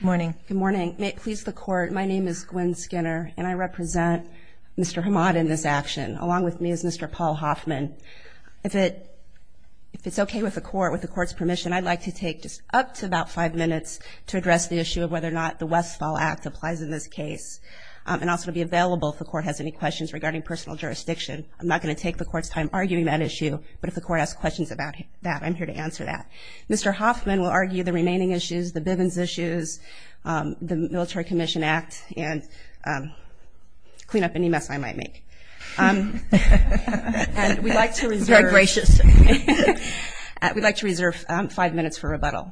Good morning. May it please the Court, my name is Gwen Skinner, and I represent Mr. Hamad in this action, along with me is Mr. Paul Hoffman. If it's okay with the Court, with the Court's permission, I'd like to take just up to about five minutes to address the issue of whether or not the Westfall Act applies in this case, and also to be available if the Court has any questions regarding personal jurisdiction. I'm not going to take the Court's time arguing that issue, but if the Court has questions about that, I'm here to answer that. Mr. Hoffman will argue the remaining issues, the Bivens issues, the Military Commission Act, and clean up any mess I might make. And we'd like to reserve five minutes for rebuttal.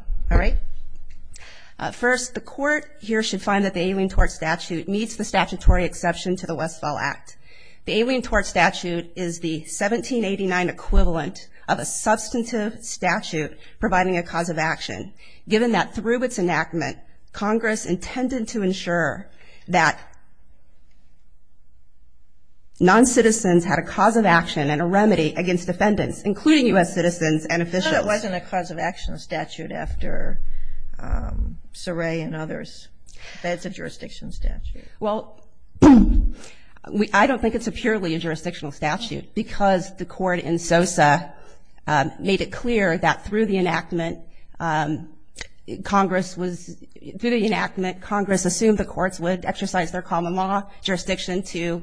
First, the Court here should find that the Alien Tort Statute meets the statutory exception to the Westfall Act. The Alien Tort Statute is the 1789 equivalent of a substantive statute providing a cause of action, given that through its enactment, Congress intended to ensure that non-citizens had a cause of action and a remedy against defendants, including U.S. citizens and officials. I thought it wasn't a cause of action statute after Soray and others, that it's a jurisdiction statute. Well, I don't think it's purely a jurisdictional statute, because the Court in Sosa made it clear that through the enactment, Congress assumed the courts would exercise their common law jurisdiction to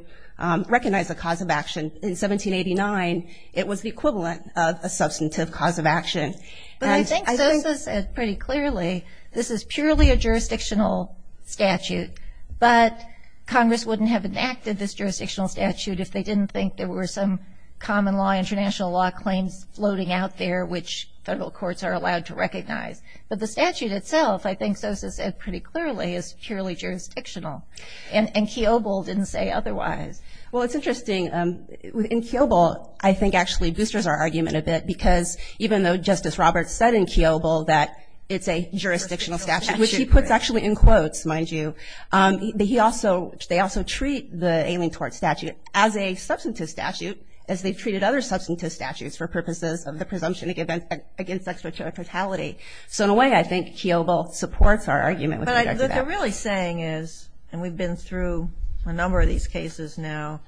recognize a cause of action. In 1789, it was the equivalent of a substantive cause of action. But I think Sosa said pretty clearly, this is purely a jurisdictional statute. But Congress wouldn't have enacted this jurisdictional statute if they didn't think there were some common law, international law claims floating out there, which federal courts are allowed to recognize. But the statute itself, I think Sosa said pretty clearly, is purely jurisdictional. And Kiobel didn't say otherwise. Well, it's interesting. In Kiobel, I think actually boosters our argument a bit, because even though Justice Roberts said in Kiobel that it's a jurisdictional statute, which he puts actually in quotes, mind you, that he also, they also treat the ailing tort statute as a substantive statute, as they've treated other substantive statutes for purposes of the presumption against extra-tortality. So in a way, I think Kiobel supports our argument with respect to that. What they're really saying is, and we've been through a number of these cases now,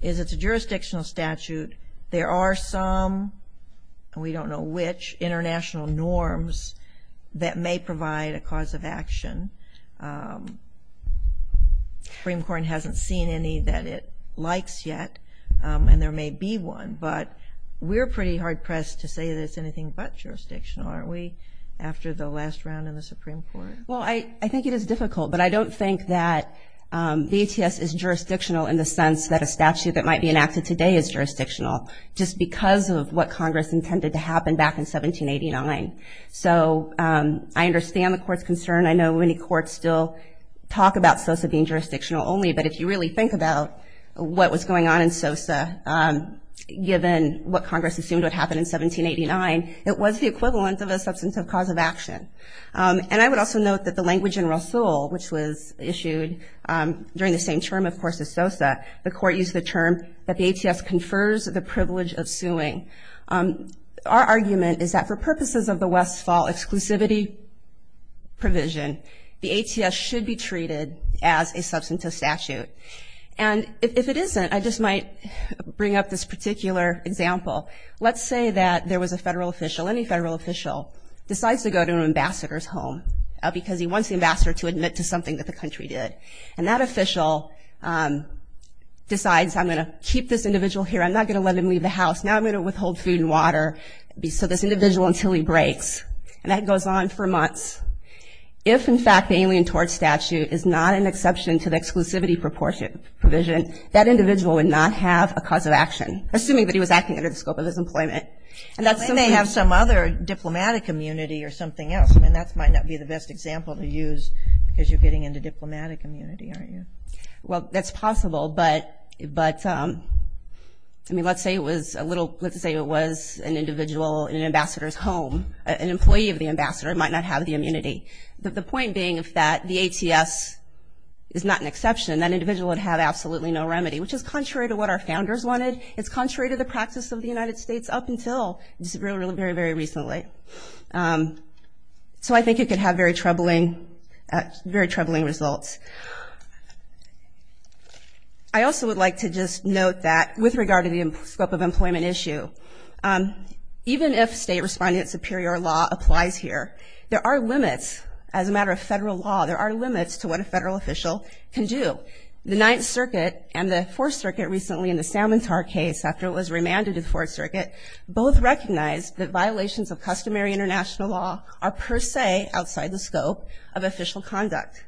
is it's a jurisdictional statute. There are some, and we don't know which, international norms that may provide a cause of action. The Supreme Court hasn't seen any that it likes yet, and there may be one. But we're pretty hard-pressed to say that it's anything but jurisdictional, aren't we, after the last round in the Supreme Court? Well, I think it is difficult, but I don't think that BTS is jurisdictional in the sense that a statute that might be enacted today is jurisdictional, just because of what Congress intended to happen back in 1789. So I understand the Court's concern. I know many courts still talk about SOSA being jurisdictional only, but if you really think about what was going on in SOSA, given what Congress assumed would happen in 1789, it was the equivalent of a substantive cause of action. And I would also note that the language in Rosoul, which was issued during the same term, of course, as SOSA, the Court used the term that the ATS confers the privilege of suing. Our argument is that for purposes of the Westfall exclusivity provision, the ATS should be treated as a substantive statute. And if it isn't, I just might bring up this particular example. Let's say that there was a federal official, any federal official decides to go to an ambassador's home, because he wants the ambassador to admit to something that the country did. And that official decides, I'm going to keep this individual here, I'm not going to let him leave the house, now I'm going to withhold food and water, so this individual until he breaks. And that goes on for months. If, in fact, the Alien Tort Statute is not an exception to the exclusivity provision, that individual would not have a cause of action, assuming that he was acting under the scope of his employment. And then they have some other diplomatic immunity or something else, and that might not be the best example to use because you're getting into diplomatic immunity, aren't you? Well, that's possible, but, I mean, let's say it was a little, let's say it was an individual in an ambassador's home. An employee of the ambassador might not have the immunity. The point being is that the ATS is not an exception. That individual would have absolutely no remedy, which is contrary to what our founders wanted. It's contrary to the practice of the United States up until very, very recently. So I think it could have very troubling results. I also would like to just note that with regard to the scope of employment issue, even if state respondent superior law applies here, there are limits. As a matter of federal law, there are limits to what a federal official can do. The Ninth Circuit and the Fourth Circuit recently in the Salmontar case, after it was remanded to the Fourth Circuit, both recognized that violations of customary international law are per se outside the scope of official conduct.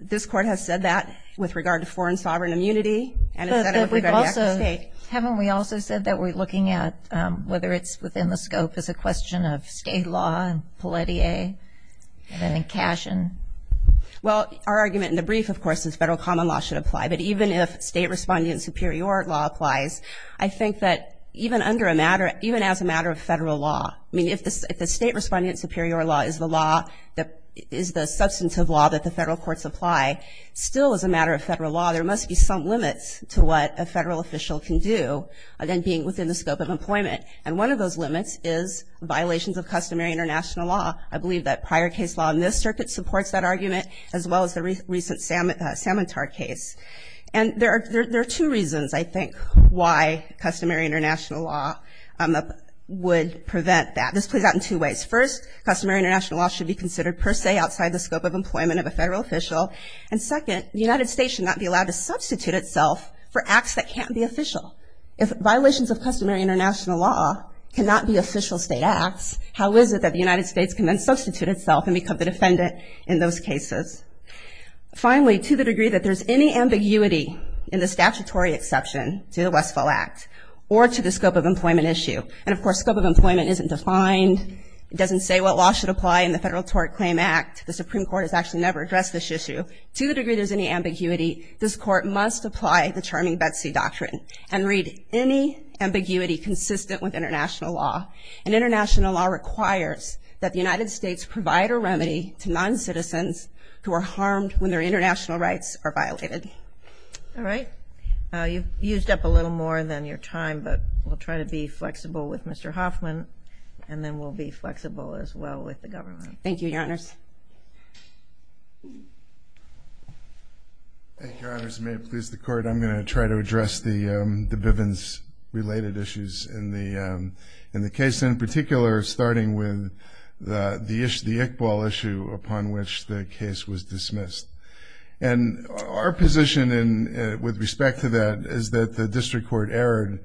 This Court has said that with regard to foreign sovereign immunity, and it's said it with regard to the Act of State. Haven't we also said that we're looking at whether it's within the scope as a question of state law, and Pelletier, and then in Cashin? Well, our argument in the brief, of course, is federal common law should apply. But even if state respondent superior law applies, I think that even as a matter of federal law, I mean, if the state respondent superior law is the substantive law that the federal courts apply, still as a matter of federal law, there must be some limits to what a federal official can do, again, being within the scope of employment. And one of those limits is violations of customary international law. I believe that prior case law in this circuit supports that argument, as well as the recent Salmontar case. And there are two reasons, I think, why customary international law would prevent that. This plays out in two ways. First, customary international law should be considered per se outside the scope of employment of a federal official. And second, the United States should not be allowed to substitute itself for acts that can't be official. If violations of customary international law cannot be official state acts, how is it that the United States can then substitute itself and become the defendant in those cases? Finally, to the degree that there's any ambiguity in the statutory exception to the Westfall Act or to the scope of employment issue, and, of course, scope of employment isn't defined, it doesn't say what law should apply in the Federal Tort Claim Act, the Supreme Court has actually never addressed this issue, to the degree there's any ambiguity, this Court must apply the Charming Betsy Doctrine and read any ambiguity consistent with international law. And international law requires that the United States provide a remedy to noncitizens who are harmed when their international rights are violated. All right. You've used up a little more than your time, but we'll try to be flexible with Mr. Hoffman, and then we'll be flexible as well with the government. Thank you, Your Honors. Your Honors, may it please the Court, I'm going to try to address the Bivens-related issues in the case, in particular starting with the Iqbal issue upon which the case was dismissed. And our position with respect to that is that the District Court erred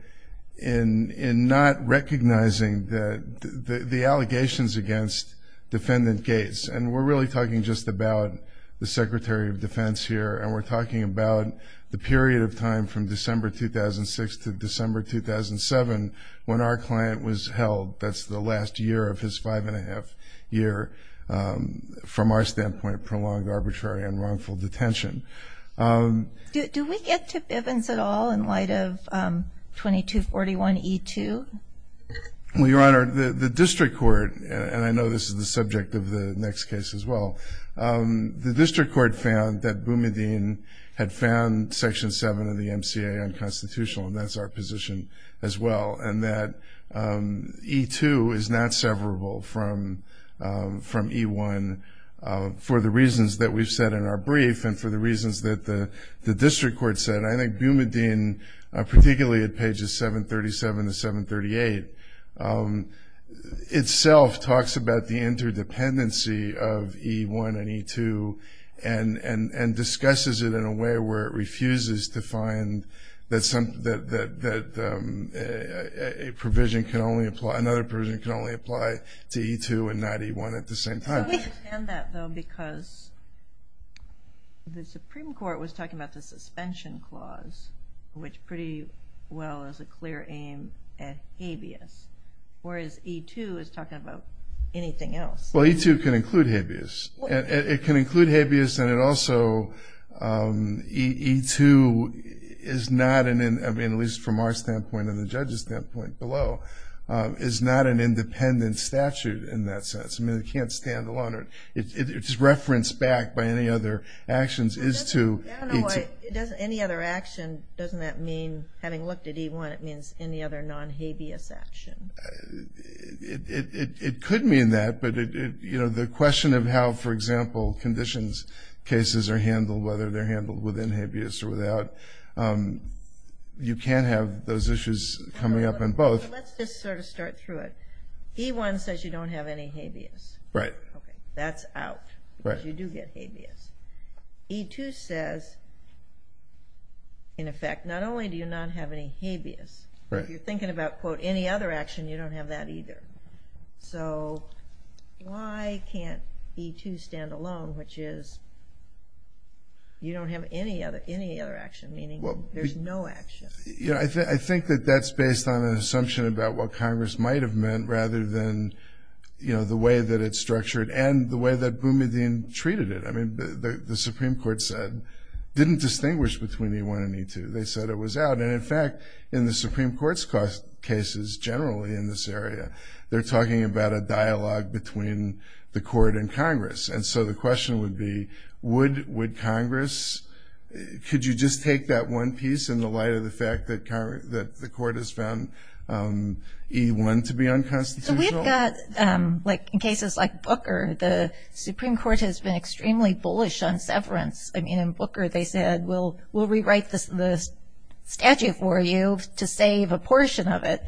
in not recognizing the allegations against Defendant Gates, and we're really talking just about the Secretary of Defense here, and we're talking about the period of time from December 2006 to December 2007 when our client was held, that's the last year of his five and a half year, from our standpoint, prolonged arbitrary and wrongful detention. Do we get to Bivens at all in light of 2241E2? Well, Your Honor, the District Court, and I know this is the subject of the next case as well, the District Court found that Boumediene had found Section 7 of the MCA unconstitutional, and that's our position as well, and that E2 is not severable from E1 for the reasons that we've said in our brief and for the reasons that the District Court said. I think Boumediene, particularly at pages 737 to 738, itself talks about the interdependency of E1 and E2 and discusses it in a way where it refuses to find that another provision can only apply to E2 and not E1 at the same time. I understand that, though, because the Supreme Court was talking about the suspension clause, which pretty well is a clear aim at habeas, whereas E2 is talking about anything else. Well, E2 can include habeas. It can include habeas, and it also E2 is not, at least from our standpoint and the judge's standpoint below, is not an independent statute in that sense. I mean, it can't stand alone. It's referenced back by any other actions as to E2. Any other action, doesn't that mean, having looked at E1, it means any other non-habeas action? It could mean that, but the question of how, for example, conditions cases are handled, whether they're handled within habeas or without, you can have those issues coming up in both. Let's just sort of start through it. E1 says you don't have any habeas. Right. Okay, that's out because you do get habeas. E2 says, in effect, not only do you not have any habeas, if you're thinking about, quote, any other action, you don't have that either. So why can't E2 stand alone, which is you don't have any other action, meaning there's no action? Yeah, I think that that's based on an assumption about what Congress might have meant rather than, you know, the way that it's structured and the way that Boumediene treated it. I mean, the Supreme Court said, didn't distinguish between E1 and E2. They said it was out. And, in fact, in the Supreme Court's cases generally in this area, they're talking about a dialogue between the court and Congress. And so the question would be, would Congress, could you just take that one piece in the light of the fact that the court has found E1 to be unconstitutional? So we've got, like in cases like Booker, the Supreme Court has been extremely bullish on severance. I mean, in Booker they said, we'll rewrite the statute for you to save a portion of it.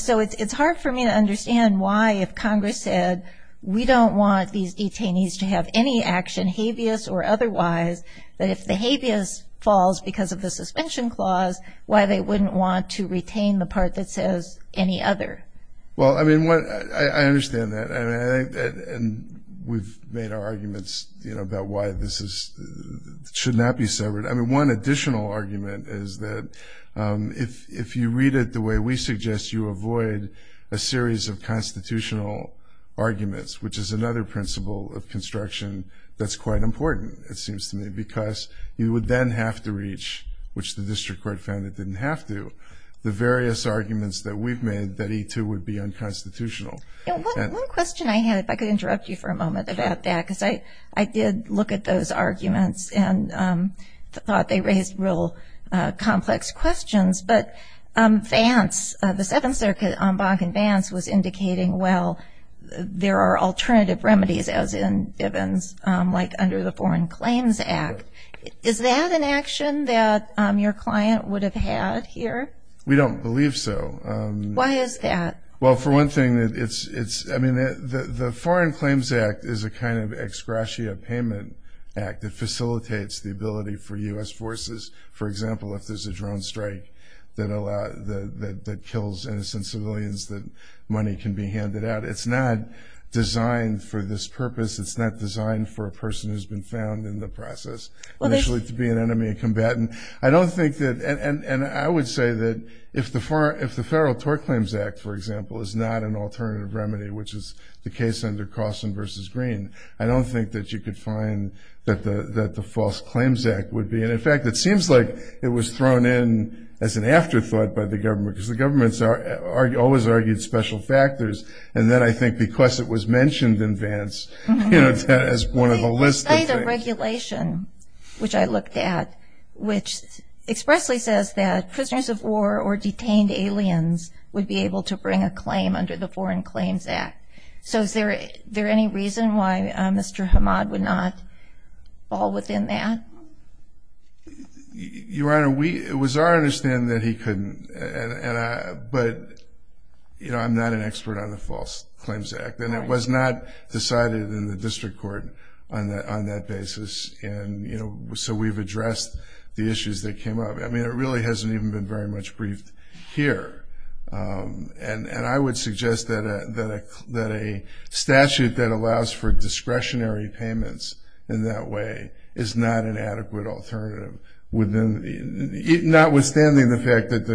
So it's hard for me to understand why, if Congress said, we don't want these detainees to have any action, habeas or otherwise, that if the habeas falls because of the suspension clause, why they wouldn't want to retain the part that says any other. Well, I mean, I understand that. And we've made our arguments about why this should not be severed. I mean, one additional argument is that if you read it the way we suggest, you avoid a series of constitutional arguments, which is another principle of construction that's quite important, it seems to me, because you would then have to reach, which the district court found it didn't have to, the various arguments that we've made that E2 would be unconstitutional. One question I had, if I could interrupt you for a moment about that, because I did look at those arguments and thought they raised real complex questions, but Vance, the Seventh Circuit en banc in Vance was indicating, well, there are alternative remedies, as in Bivens, like under the Foreign Claims Act. Is that an action that your client would have had here? We don't believe so. Why is that? Well, for one thing, I mean, the Foreign Claims Act is a kind of ex gratia payment act. It facilitates the ability for U.S. forces, for example, if there's a drone strike that kills innocent civilians, that money can be handed out. It's not designed for this purpose. It's not designed for a person who's been found in the process, initially to be an enemy, a combatant. And I would say that if the Federal Tort Claims Act, for example, is not an alternative remedy, which is the case under Cawson v. Green, I don't think that you could find that the False Claims Act would be. And, in fact, it seems like it was thrown in as an afterthought by the government, because the government always argued special factors, and then I think because it was mentioned in Vance as one of the list of things. which I looked at, which expressly says that prisoners of war or detained aliens would be able to bring a claim under the Foreign Claims Act. So is there any reason why Mr. Hamad would not fall within that? Your Honor, it was our understanding that he couldn't, but I'm not an expert on the False Claims Act, and it was not decided in the district court on that basis. So we've addressed the issues that came up. I mean, it really hasn't even been very much briefed here. And I would suggest that a statute that allows for discretionary payments in that way is not an adequate alternative, notwithstanding the fact that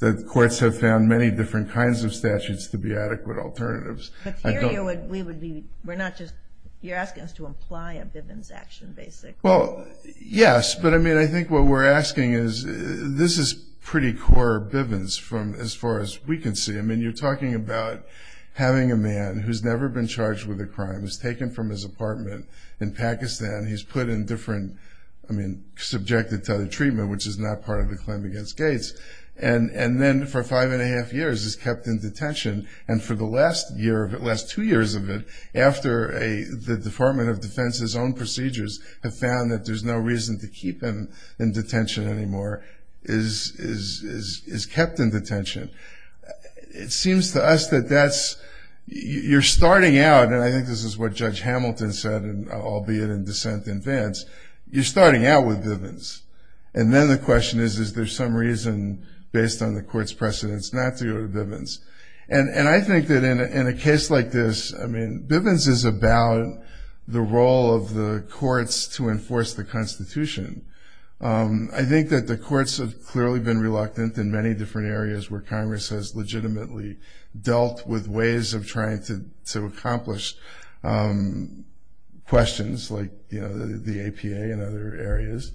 the courts have found many different kinds of statutes to be adequate alternatives. But here you're asking us to imply a Bivens action, basically. Well, yes, but I mean, I think what we're asking is, this is pretty core Bivens from as far as we can see. I mean, you're talking about having a man who's never been charged with a crime, who's taken from his apartment in Pakistan, he's put in different, I mean, subjected to other treatment, which is not part of the claim against Gates, and then for five and a half years is kept in detention, and for the last two years of it, after the Department of Defense's own procedures have found that there's no reason to keep him in detention anymore, is kept in detention. It seems to us that you're starting out, and I think this is what Judge Hamilton said, albeit in dissent in advance, you're starting out with Bivens. And then the question is, is there some reason, based on the court's precedence, not to go to Bivens? And I think that in a case like this, I mean, Bivens is about the role of the courts to enforce the Constitution. I think that the courts have clearly been reluctant in many different areas where Congress has legitimately dealt with ways of trying to accomplish questions, like the APA and other areas,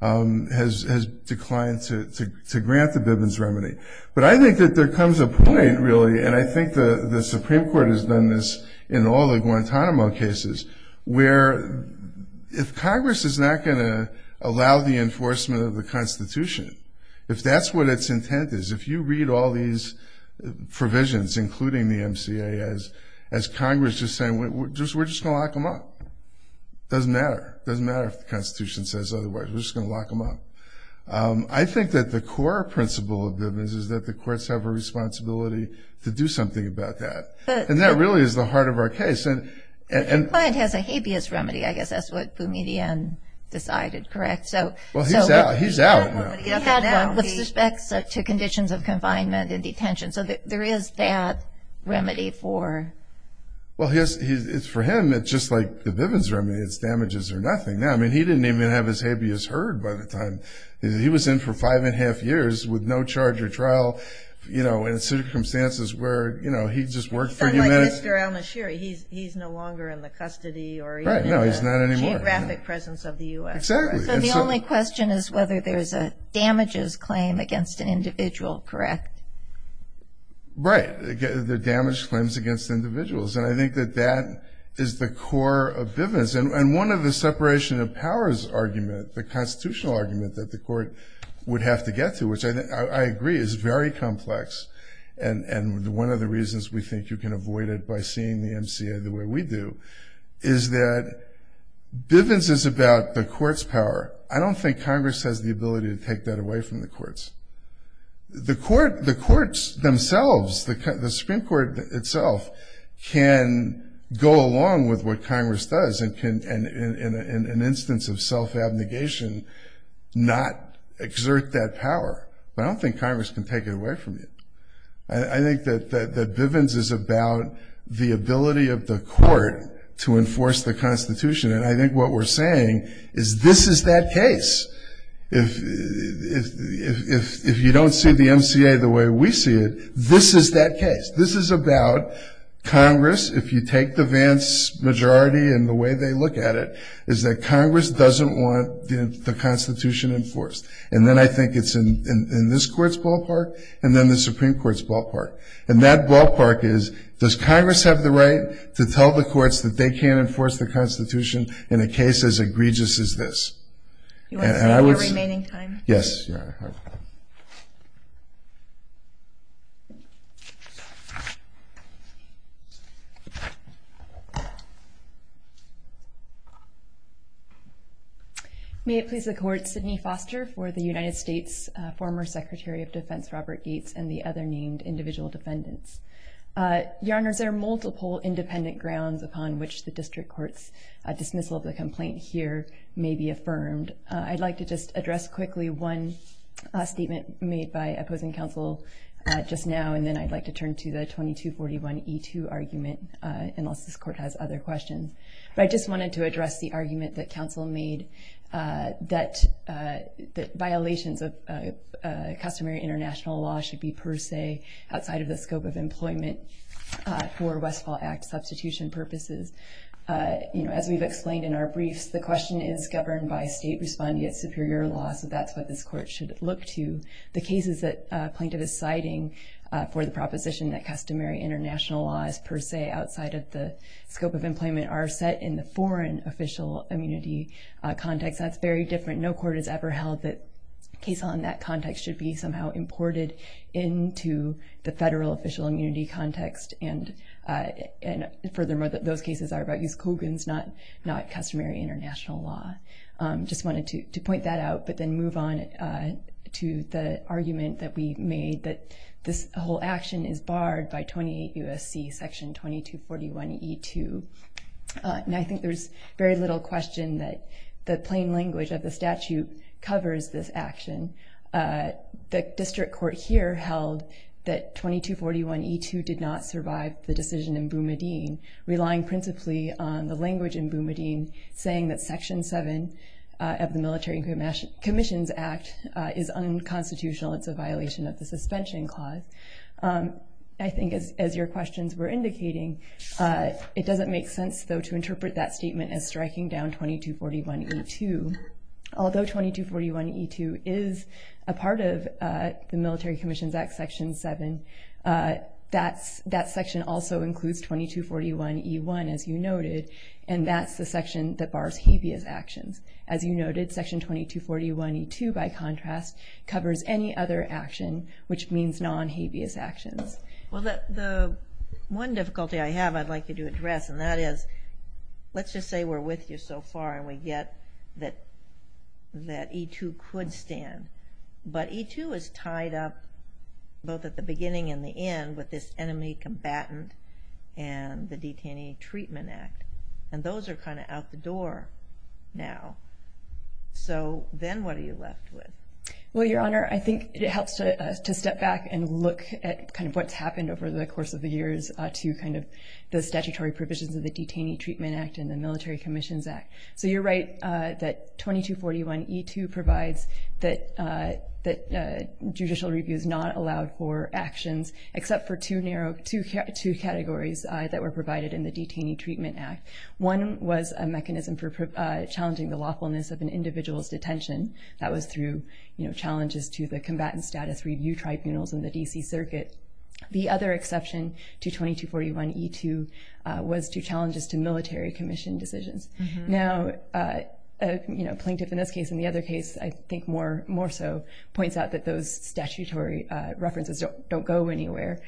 has declined to grant the Bivens remedy. But I think that there comes a point, really, and I think the Supreme Court has done this in all the Guantanamo cases, where if Congress is not going to allow the enforcement of the Constitution, if that's what its intent is, if you read all these provisions, including the MCA, as Congress is saying, we're just going to lock them up. It doesn't matter. It doesn't matter if the Constitution says otherwise. We're just going to lock them up. I think that the core principle of Bivens is that the courts have a responsibility to do something about that. And that really is the heart of our case. The client has a habeas remedy, I guess. That's what Boumediene decided, correct? Well, he's out now. He had one with respect to conditions of confinement and detention. So there is that remedy for? Well, it's for him. It's just like the Bivens remedy. It's damages or nothing. I mean, he didn't even have his habeas heard by the time. He was in for five and a half years with no charge or trial, you know, in circumstances where, you know, he just worked for humanity. It's like Mr. al-Nashiri. He's no longer in the custody or even in the geographic presence of the U.S. Exactly. So the only question is whether there's a damages claim against an individual, correct? Right. There are damage claims against individuals. And I think that that is the core of Bivens. And one of the separation of powers argument, the constitutional argument that the court would have to get to, which I agree is very complex, and one of the reasons we think you can avoid it by seeing the MCA the way we do, is that Bivens is about the court's power. I don't think Congress has the ability to take that away from the courts. The courts themselves, the Supreme Court itself, can go along with what Congress does and can, in an instance of self-abnegation, not exert that power. But I don't think Congress can take it away from you. I think that Bivens is about the ability of the court to enforce the Constitution. And I think what we're saying is this is that case. If you don't see the MCA the way we see it, this is that case. This is about Congress, if you take the Vance majority and the way they look at it, is that Congress doesn't want the Constitution enforced. And then I think it's in this court's ballpark, and then the Supreme Court's ballpark. And that ballpark is, does Congress have the right to tell the courts that they can't enforce the Constitution in a case as egregious as this? Do you want to stay for your remaining time? Yes. Yes, Your Honor. May it please the Court, Sidney Foster for the United States, former Secretary of Defense Robert Gates, and the other named individual defendants. Your Honors, there are multiple independent grounds upon which the district court's dismissal of the complaint here may be affirmed. I'd like to just address quickly one statement made by opposing counsel just now, and then I'd like to turn to the 2241E2 argument, unless this court has other questions. But I just wanted to address the argument that counsel made that violations of customary international law should be per se outside of the scope of employment for Westfall Act substitution purposes. As we've explained in our briefs, the question is governed by state-responding yet superior law, so that's what this court should look to. The cases that a plaintiff is citing for the proposition that customary international law is per se outside of the scope of employment are set in the foreign official immunity context. That's very different. No court has ever held that a case on that context should be somehow imported into the federal official immunity context. And furthermore, those cases are about use of Kogan's not customary international law. Just wanted to point that out, but then move on to the argument that we made that this whole action is barred by 28 U.S.C. Section 2241E2. And I think there's very little question that the plain language of the statute covers this action. The district court here held that 2241E2 did not survive the decision in Bumadine, relying principally on the language in Bumadine saying that Section 7 of the Military Commissions Act is unconstitutional. It's a violation of the suspension clause. I think as your questions were indicating, it doesn't make sense, though, to interpret that statement as striking down 2241E2. Although 2241E2 is a part of the Military Commissions Act Section 7, that section also includes 2241E1, as you noted, and that's the section that bars habeas actions. As you noted, Section 2241E2, by contrast, covers any other action, which means non-habeas actions. Well, the one difficulty I have I'd like you to address, and that is, let's just say we're with you so far and we get that E2 could stand, but E2 is tied up both at the beginning and the end with this enemy combatant and the Detainee Treatment Act. And those are kind of out the door now. So then what are you left with? Well, Your Honor, I think it helps to step back and look at kind of what's happened over the course of the years to kind of the statutory provisions of the Detainee Treatment Act and the Military Commissions Act. So you're right that 2241E2 provides that judicial review is not allowed for actions except for two categories that were provided in the Detainee Treatment Act. One was a mechanism for challenging the lawfulness of an individual's detention. That was through challenges to the combatant status review tribunals in the D.C. Circuit. The other exception to 2241E2 was to challenges to military commission decisions. Now, a plaintiff in this case and the other case, I think, more so points out that those statutory references don't go anywhere.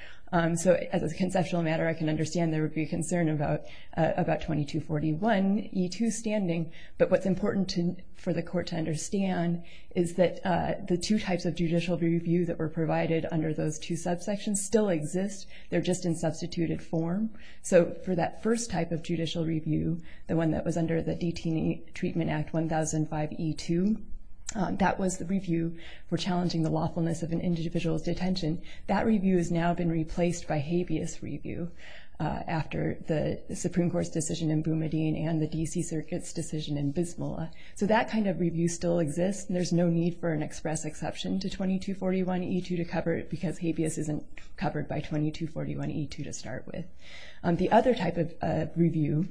So as a conceptual matter, I can understand there would be a concern about 2241E2 standing, but what's important for the court to understand is that the two types of judicial review that were provided under those two subsections still exist. They're just in substituted form. So for that first type of judicial review, the one that was under the Detainee Treatment Act 1005E2, that was the review for challenging the lawfulness of an individual's detention. That review has now been replaced by habeas review after the Supreme Court's decision in Boumediene and the D.C. Circuit's decision in Bismillah. So that kind of review still exists, and there's no need for an express exception to 2241E2 to cover it because habeas isn't covered by 2241E2 to start with. The other type of review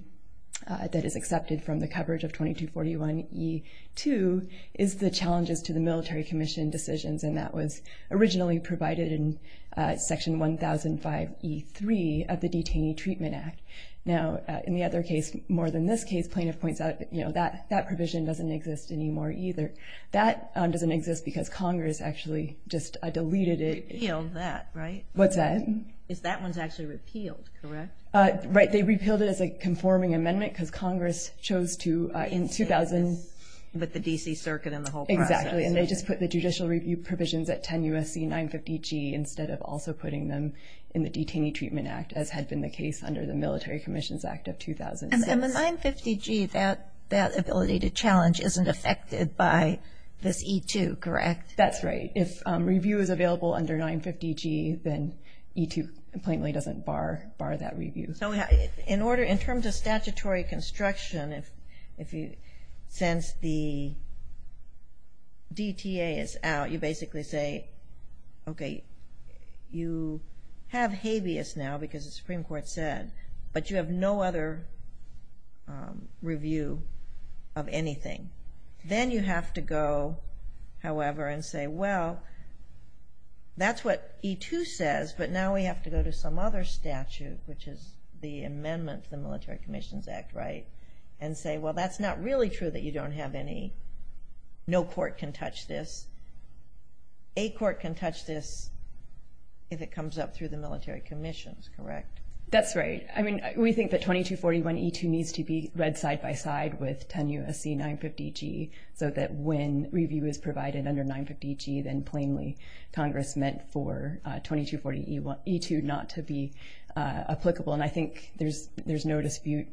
that is accepted from the coverage of 2241E2 is the challenges to the military commission decisions, and that was originally provided in Section 1005E3 of the Detainee Treatment Act. Now, in the other case, more than this case, plaintiff points out that that provision doesn't exist anymore either. That doesn't exist because Congress actually just deleted it. Repealed that, right? What's that? That one's actually repealed, correct? Right, they repealed it as a conforming amendment because Congress chose to in 2000... But the D.C. Circuit and the whole process. Exactly, and they just put the judicial review provisions at 10 U.S.C. 950G instead of also putting them in the Detainee Treatment Act as had been the case under the Military Commissions Act of 2006. And the 950G, that ability to challenge isn't affected by this E2, correct? That's right. If review is available under 950G, then E2 plainly doesn't bar that review. In terms of statutory construction, since the DTA is out, you basically say, okay, you have habeas now because the Supreme Court said, but you have no other review of anything. Then you have to go, however, and say, well, that's what E2 says, but now we have to go to some other statute, which is the amendment to the Military Commissions Act, right? And say, well, that's not really true that you don't have any. No court can touch this. A court can touch this if it comes up through the Military Commissions, correct? That's right. I mean, we think that 2241E2 needs to be read side by side with 10 U.S.C. 950G so that when review is provided under 950G, then plainly Congress meant for 2240E2 not to be applicable. And I think there's no dispute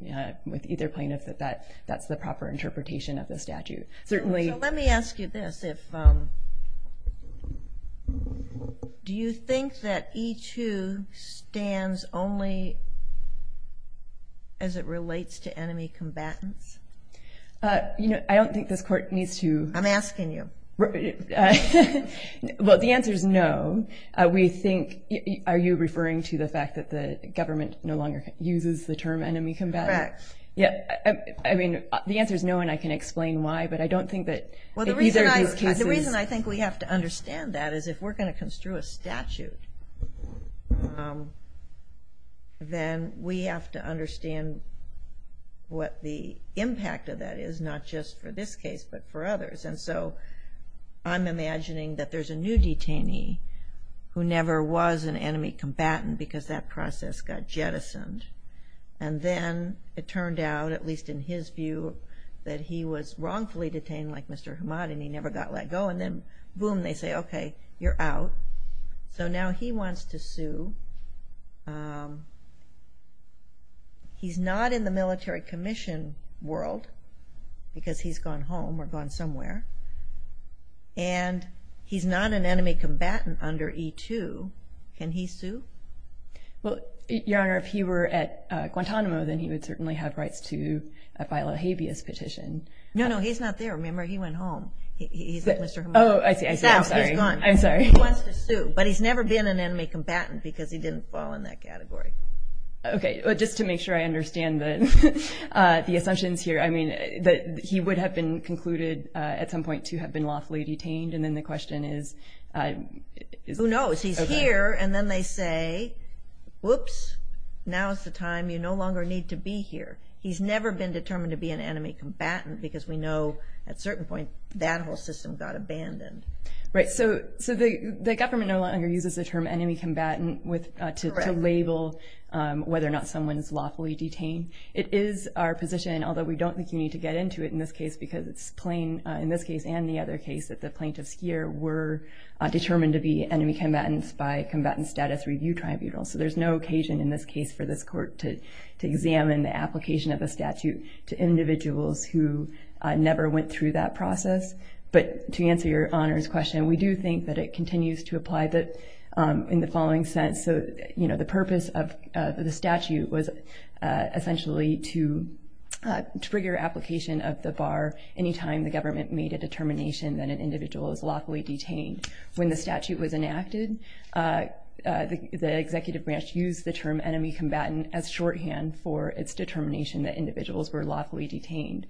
with either plaintiff that that's the proper interpretation of the statute. Let me ask you this. Do you think that E2 stands only as it relates to enemy combatants? I don't think this court needs to. I'm asking you. Well, the answer is no. Are you referring to the fact that the government no longer uses the term enemy combatant? Correct. I mean, the answer is no, and I can explain why, but I don't think that either of these cases. The reason I think we have to understand that is if we're going to construe a statute, then we have to understand what the impact of that is, not just for this case but for others. And so I'm imagining that there's a new detainee who never was an enemy combatant because that process got jettisoned. And then it turned out, at least in his view, that he was wrongfully detained like Mr. Hamad and he never got let go, and then, boom, they say, okay, you're out. So now he wants to sue. He's not in the military commission world because he's gone home or gone somewhere, and he's not an enemy combatant under E2. Can he sue? Well, Your Honor, if he were at Guantanamo, then he would certainly have rights to file a habeas petition. No, no, he's not there. Remember, he went home. He's not Mr. Hamad. Oh, I see. I'm sorry. He's out. He's gone. I'm sorry. He wants to sue, but he's never been an enemy combatant because he didn't fall in that category. Okay. Well, just to make sure I understand the assumptions here, I mean, he would have been concluded at some point to have been lawfully detained, and then the question is? Who knows? He's here, and then they say, whoops, now is the time. You no longer need to be here. He's never been determined to be an enemy combatant because we know at a certain point that whole system got abandoned. Right. So the government no longer uses the term enemy combatant to label whether or not someone is lawfully detained. It is our position, although we don't think you need to get into it in this case because it's plain, in this case and the other case, that the plaintiffs here were determined to be enemy combatants by combatant status review tribunal. So there's no occasion in this case for this court to examine the application of a statute to individuals who never went through that process. But to answer your honors question, we do think that it continues to apply in the following sense. So the purpose of the statute was essentially to trigger application of the bar any time the government made a determination that an individual was lawfully detained. When the statute was enacted, the executive branch used the term enemy combatant as shorthand for its determination that individuals were lawfully detained.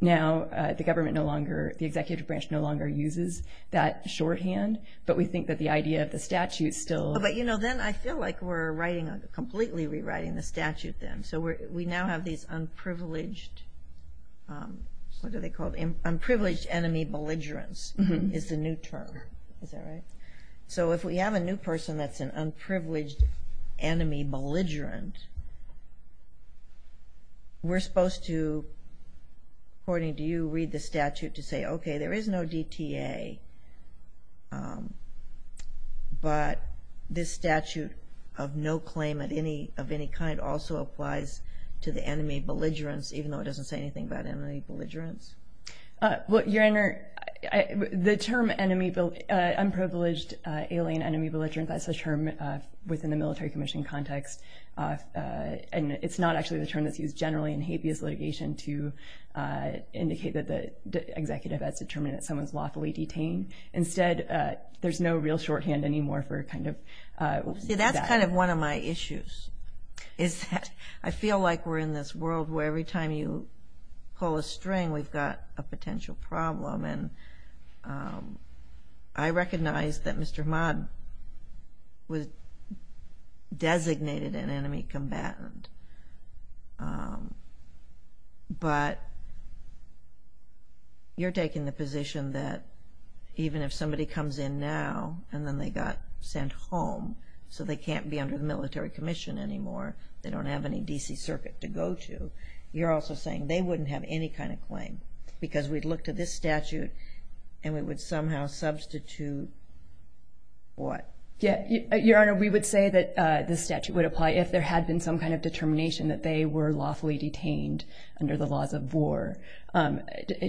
Now the government no longer, the executive branch no longer uses that shorthand, but we think that the idea of the statute still applies. But then I feel like we're completely rewriting the statute then. So we now have these unprivileged, what are they called, unprivileged enemy belligerents is the new term. Is that right? So if we have a new person that's an unprivileged enemy belligerent, we're supposed to, according to you, read the statute to say, okay, there is no DTA, but this statute of no claim of any kind also applies to the enemy belligerents, even though it doesn't say anything about enemy belligerents. Well, your honor, the term unprivileged alien enemy belligerent, that's a term within the military commission context, and it's not actually the term that's used generally in habeas litigation to indicate that the executive has determined that someone's lawfully detained. Instead, there's no real shorthand anymore for kind of that. See, that's kind of one of my issues, is that I feel like we're in this world where every time you pull a string, we've got a potential problem, and I recognize that Mr. Hammad was designated an enemy combatant, but you're taking the position that even if somebody comes in now and then they got sent home so they can't be under the military commission anymore, they don't have any D.C. circuit to go to, you're also saying they wouldn't have any kind of claim, because we'd look to this statute and we would somehow substitute what? Your honor, we would say that this statute would apply if there had been some kind of determination that they were lawfully detained under the laws of war.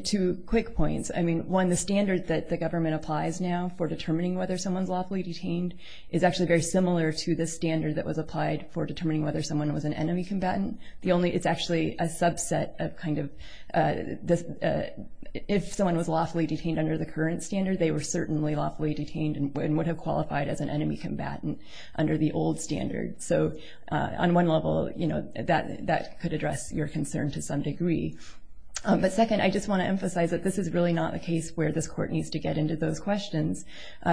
Two quick points. I mean, one, the standard that the government applies now for determining whether someone's lawfully detained is actually very similar to the standard that was applied for determining whether someone was an enemy combatant. It's actually a subset of kind of, if someone was lawfully detained under the current standard, they were certainly lawfully detained and would have qualified as an enemy combatant under the old standard. So on one level, that could address your concern to some degree. But second, I just want to emphasize that this is really not a case where this court needs to get into those questions,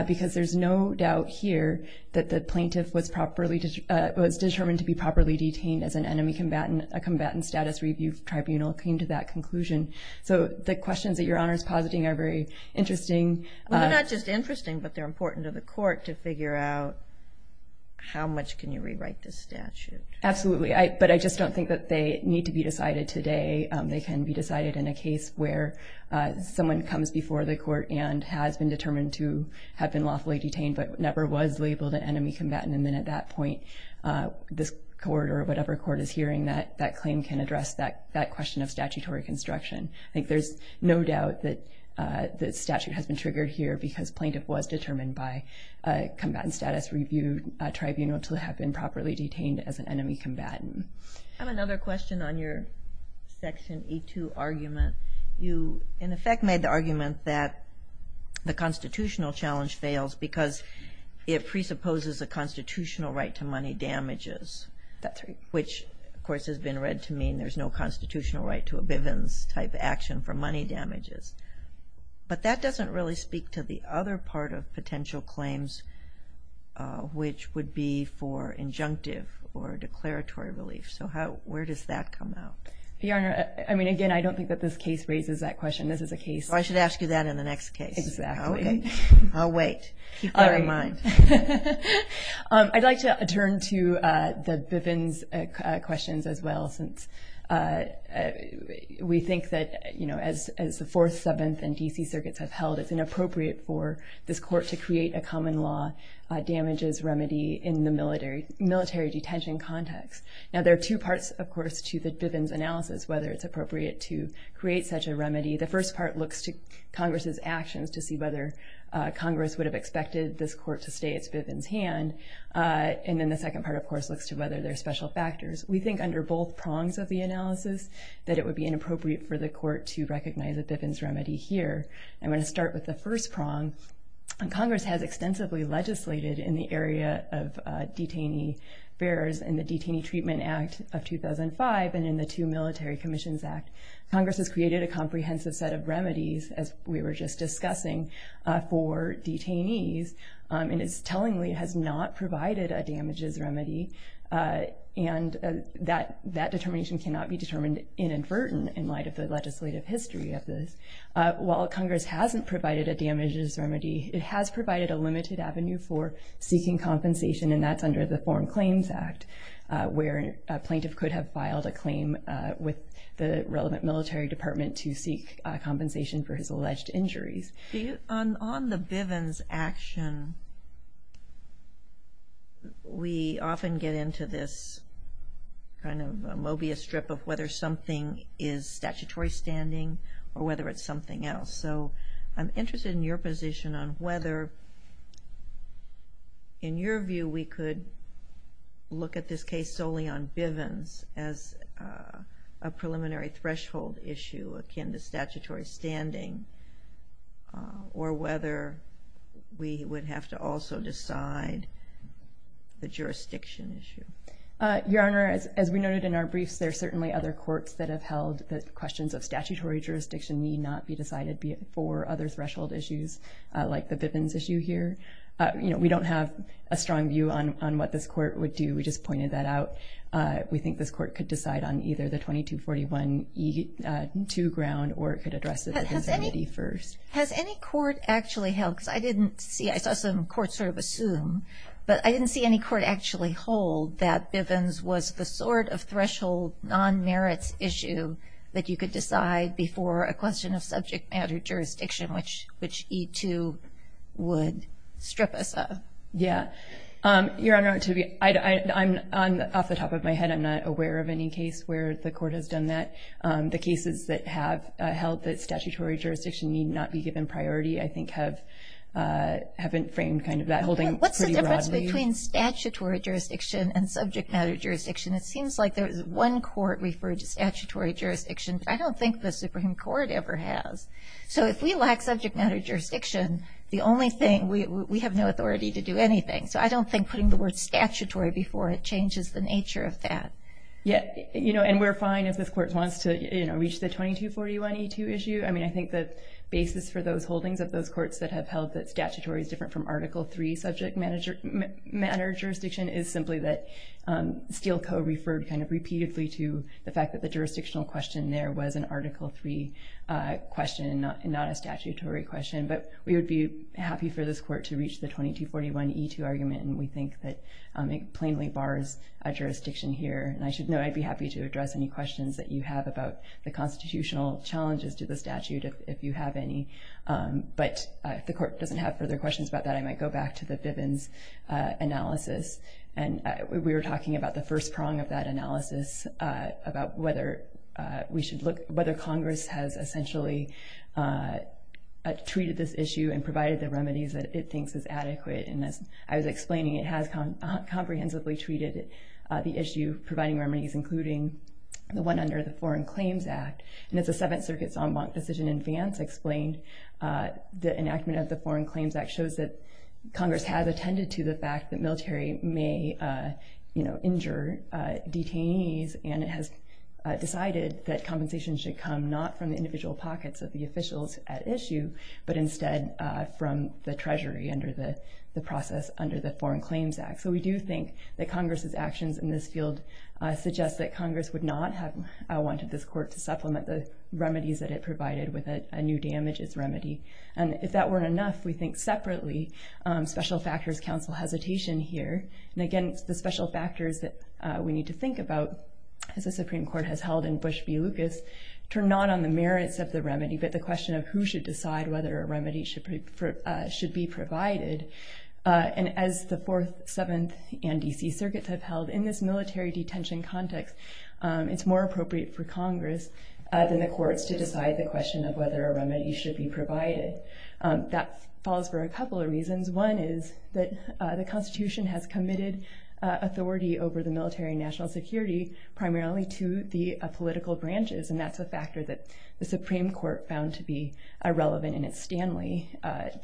because there's no doubt here that the plaintiff was determined to be properly detained as an enemy combatant. A combatant status review tribunal came to that conclusion. So the questions that your honor is positing are very interesting. Well, they're not just interesting, but they're important to the court to figure out how much can you rewrite this statute. Absolutely. But I just don't think that they need to be decided today. They can be decided in a case where someone comes before the court and has been determined to have been lawfully detained, but never was labeled an enemy combatant. And then at that point, this court or whatever court is hearing that claim can address that question of statutory construction. I think there's no doubt that the statute has been triggered here because plaintiff was determined by a combatant status review tribunal to have been properly detained as an enemy combatant. I have another question on your section E2 argument. You, in effect, made the argument that the constitutional challenge fails because it presupposes a constitutional right to money damages. That's right. Which, of course, has been read to mean there's no constitutional right to a Bivens-type action for money damages. But that doesn't really speak to the other part of potential claims, which would be for injunctive or declaratory relief. So where does that come out? Your Honor, I mean, again, I don't think that this case raises that question. This is a case. I should ask you that in the next case. Exactly. Okay. I'll wait. Keep that in mind. I'd like to turn to the Bivens questions as well, since we think that, you know, as the Fourth, Seventh, and D.C. Circuits have held, it's inappropriate for this court to create a common law damages remedy in the military detention context. Now, there are two parts, of course, to the Bivens analysis, whether it's appropriate to create such a remedy. The first part looks to Congress's actions to see whether Congress would have expected this court to stay at Bivens' hand. And then the second part, of course, looks to whether there are special factors. We think under both prongs of the analysis that it would be inappropriate for the court to recognize a Bivens remedy here. I'm going to start with the first prong. Congress has extensively legislated in the area of detainee affairs in the Detainee Treatment Act of 2005 and in the Two Military Commissions Act. Congress has created a comprehensive set of remedies, as we were just discussing, for detainees. And it's tellingly has not provided a damages remedy. And that determination cannot be determined inadvertently in light of the legislative history of this. While Congress hasn't provided a damages remedy, it has provided a limited avenue for seeking compensation, and that's under the Foreign Claims Act, where a plaintiff could have filed a claim with the relevant military department to seek compensation for his alleged injuries. On the Bivens action, we often get into this kind of a Mobius strip of whether something is statutory standing or whether it's something else. So I'm interested in your position on whether, in your view, we could look at this case solely on Bivens as a preliminary threshold issue akin to statutory standing, or whether we would have to also decide the jurisdiction issue. Your Honor, as we noted in our briefs, there are certainly other courts that have held that questions of statutory jurisdiction need not be decided, be it for other threshold issues like the Bivens issue here. You know, we don't have a strong view on what this court would do. We just pointed that out. We think this court could decide on either the 2241E2 ground or it could address the Bivens remedy first. Has any court actually held, because I saw some courts sort of assume, but I didn't see any court actually hold that Bivens was the sort of threshold non-merits issue that you could decide before a question of subject matter jurisdiction, which E2 would strip us of. Yeah. Your Honor, off the top of my head, I'm not aware of any case where the court has done that. The cases that have held that statutory jurisdiction need not be given priority, I think, have framed kind of that holding pretty broadly. What's the difference between statutory jurisdiction and subject matter jurisdiction? It seems like there was one court referred to statutory jurisdiction, but I don't think the Supreme Court ever has. So if we lack subject matter jurisdiction, the only thing, we have no authority to do anything. So I don't think putting the word statutory before it changes the nature of that. Yeah. And we're fine if this court wants to reach the 2241E2 issue. I mean, I think the basis for those holdings of those courts that have held that statutory is different from Article III subject matter jurisdiction is simply that Steele Co. referred kind of repeatedly to the fact that the jurisdictional question there was an Article III question, not a statutory question. But we would be happy for this court to reach the 2241E2 argument, and we think that it plainly bars a jurisdiction here. And I should note I'd be happy to address any questions that you have about the constitutional challenges to the statute, if you have any. But if the court doesn't have further questions about that, I might go back to the Bivens analysis. And we were talking about the first prong of that analysis, about whether Congress has essentially treated this issue and provided the remedies that it thinks is adequate. And as I was explaining, it has comprehensively treated the issue, providing remedies, including the one under the Foreign Claims Act. And as the Seventh Circuit's en banc decision in advance explained, the enactment of the Foreign Claims Act shows that Congress has attended to the fact that military may injure detainees, and it has decided that compensation should come not from the individual pockets of the officials at issue, but instead from the Treasury under the process under the Foreign Claims Act. So we do think that Congress's actions in this field suggest that Congress would not have wanted this court to supplement the remedies that it provided with a new damages remedy. And if that weren't enough, we think separately, special factors counsel hesitation here. And again, the special factors that we need to think about, as the Supreme Court has held in Bush v. Lucas, turn not on the merits of the remedy, but the question of who should decide whether a remedy should be provided. And as the Fourth, Seventh, and D.C. Circuits have held in this military detention context, it's more appropriate for Congress than the courts to decide the question of whether a remedy should be provided. That falls for a couple of reasons. One is that the Constitution has committed authority over the military and national security, primarily to the political branches, and that's a factor that the Supreme Court found to be irrelevant in its Stanley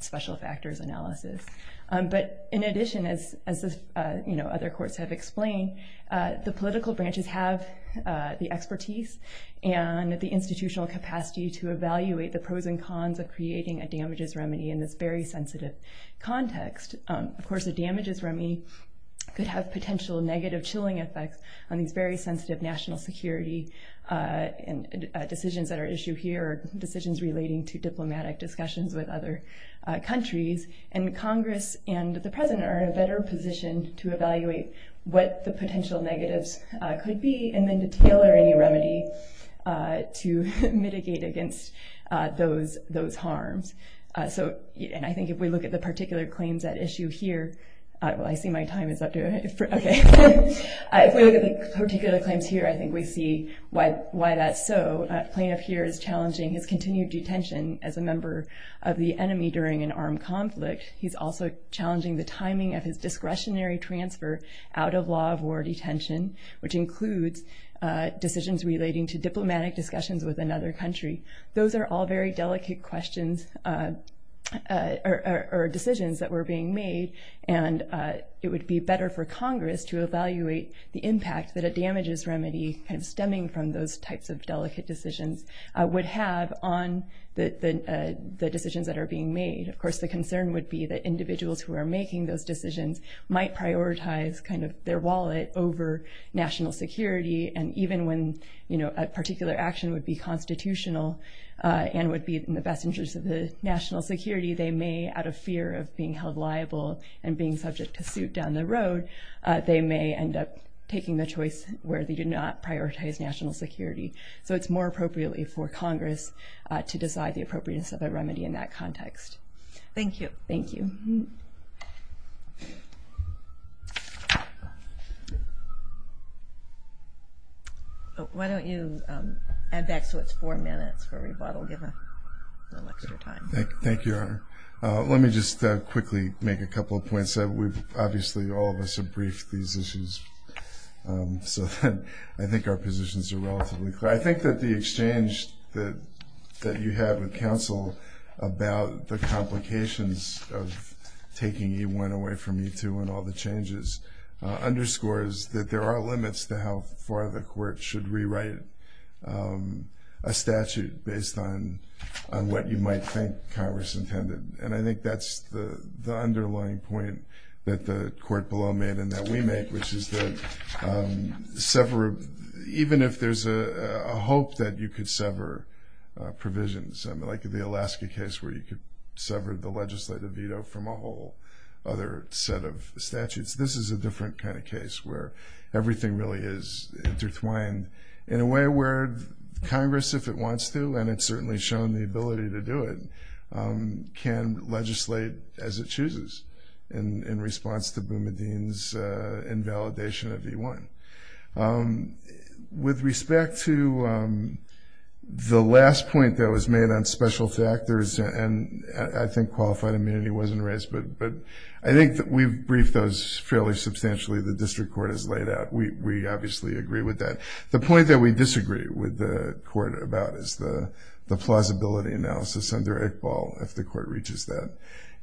special factors analysis. But in addition, as other courts have explained, the political branches have the expertise and the institutional capacity to evaluate the pros and cons of creating a damages remedy in this very sensitive context. Of course, a damages remedy could have potential negative chilling effects on these very sensitive national security decisions that are issued here, decisions relating to diplomatic discussions with other countries. And Congress and the President are in a better position to evaluate what the potential negatives could be, and then to tailor any remedy to mitigate against those harms. And I think if we look at the particular claims at issue here, well, I see my time is up. Okay. If we look at the particular claims here, I think we see why that's so. A plaintiff here is challenging his continued detention as a member of the enemy during an armed conflict. He's also challenging the timing of his discretionary transfer out of law of war detention, which includes decisions relating to diplomatic discussions with another country. Those are all very delicate questions or decisions that were being made, and it would be better for Congress to evaluate the impact that a damages remedy kind of stemming from those types of delicate decisions would have on the decisions that are being made. Of course, the concern would be that individuals who are making those decisions might prioritize kind of their wallet over national security, and even when a particular action would be constitutional and would be in the best interest of the national security, they may, out of fear of being held liable and being subject to suit down the road, they may end up taking the choice where they do not prioritize national security. So it's more appropriately for Congress to decide the appropriateness of a remedy in that context. Thank you. Thank you. Why don't you add back so it's four minutes for rebuttal, give a little extra time. Thank you, Your Honor. Let me just quickly make a couple of points. Obviously, all of us have briefed these issues, so I think our positions are relatively clear. I think that the exchange that you had with counsel about the complications of taking E1 away from E2 and all the changes underscores that there are limits to how far the court should rewrite a statute based on what you might think Congress intended, and I think that's the underlying point that the court below made and that we make, which is that even if there's a hope that you could sever provisions, like the Alaska case where you could sever the legislative veto from a whole other set of statutes, this is a different kind of case where everything really is intertwined in a way where Congress, if it wants to, and it's certainly shown the ability to do it, can legislate as it chooses in response to Boumediene's invalidation of E1. With respect to the last point that was made on special factors, and I think qualified immunity wasn't raised, but I think that we've briefed those fairly substantially, the district court has laid out. We obviously agree with that. The point that we disagree with the court about is the plausibility analysis under Iqbal, if the court reaches that.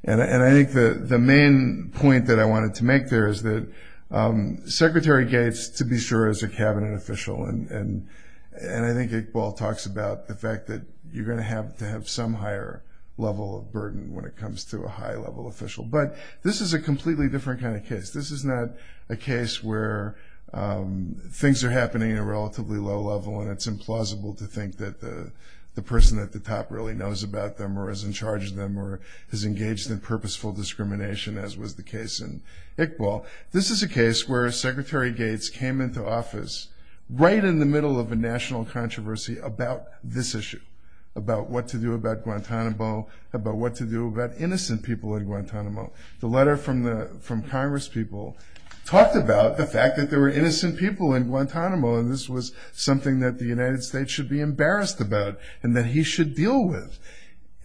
And I think the main point that I wanted to make there is that Secretary Gates, to be sure, is a cabinet official, and I think Iqbal talks about the fact that you're going to have to have some higher level of burden when it comes to a high-level official. But this is a completely different kind of case. This is not a case where things are happening at a relatively low level, and it's implausible to think that the person at the top really knows about them or is in charge of them or is engaged in purposeful discrimination, as was the case in Iqbal. This is a case where Secretary Gates came into office right in the middle of a national controversy about this issue, about what to do about Guantanamo, about what to do about innocent people in Guantanamo. The letter from congresspeople talked about the fact that there were innocent people in Guantanamo, and this was something that the United States should be embarrassed about and that he should deal with.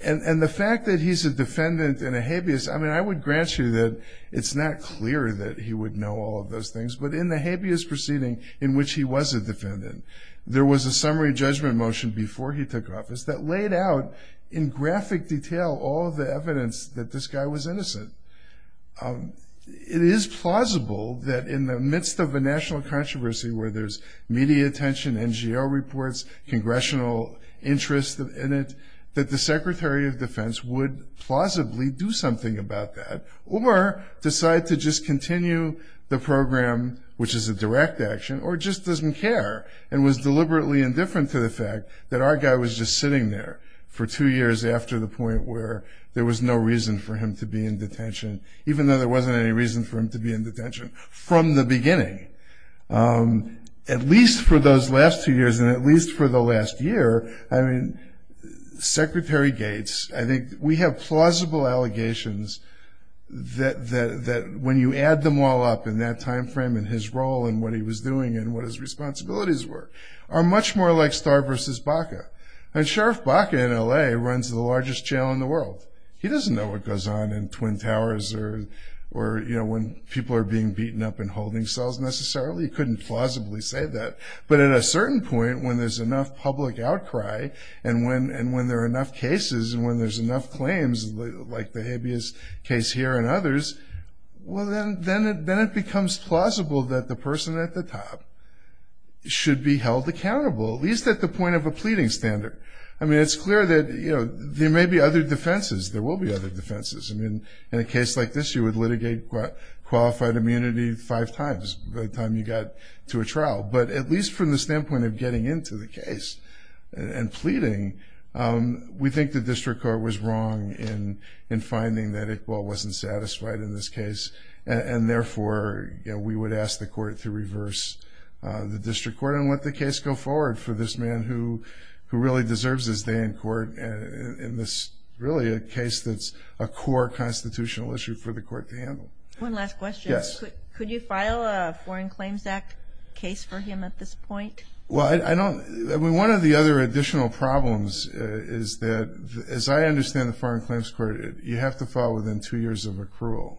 And the fact that he's a defendant in a habeas, I mean, I would grant you that it's not clear that he would know all of those things, but in the habeas proceeding in which he was a defendant, there was a summary judgment motion before he took office that laid out in graphic detail all of the evidence that this guy was innocent. It is plausible that in the midst of a national controversy where there's media attention, NGL reports, congressional interest in it, that the Secretary of Defense would plausibly do something about that or decide to just continue the program, which is a direct action, or just doesn't care and was deliberately indifferent to the fact that our guy was just sitting there for two years after the point where there was no reason for him to be in detention, even though there wasn't any reason for him to be in detention from the beginning. At least for those last two years and at least for the last year, I mean, Secretary Gates, I think we have plausible allegations that when you add them all up in that time frame and his role and what he was doing and what his responsibilities were, are much more like Starr versus Baca. And Sheriff Baca in L.A. runs the largest jail in the world. He doesn't know what goes on in Twin Towers or when people are being beaten up in holding cells necessarily. He couldn't plausibly say that. But at a certain point when there's enough public outcry and when there are enough cases and when there's enough claims like the habeas case here and others, well, then it becomes plausible that the person at the top should be held accountable, at least at the point of a pleading standard. I mean, it's clear that there may be other defenses. There will be other defenses. I mean, in a case like this, you would litigate qualified immunity five times by the time you got to a trial. But at least from the standpoint of getting into the case and pleading, we think the district court was wrong in finding that Iqbal wasn't satisfied in this case, and therefore we would ask the court to reverse the district court and let the case go forward for this man who really deserves his day in court in this really a case that's a core constitutional issue for the court to handle. One last question. Yes. Could you file a Foreign Claims Act case for him at this point? Well, I don't – I mean, one of the other additional problems is that, as I understand the Foreign Claims Court, you have to file within two years of accrual.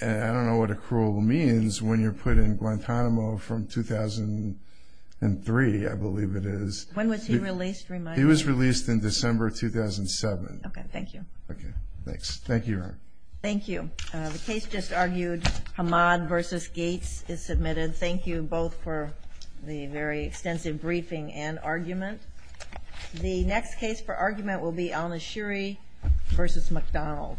And I don't know what accrual means when you're put in Guantanamo from 2003, I believe it is. When was he released? He was released in December 2007. Okay, thank you. Okay, thanks. Thank you, Your Honor. Thank you. The case just argued, Hamad v. Gates, is submitted. Thank you both for the very extensive briefing and argument. The next case for argument will be Al-Nashiri v. McDonald. Thank you.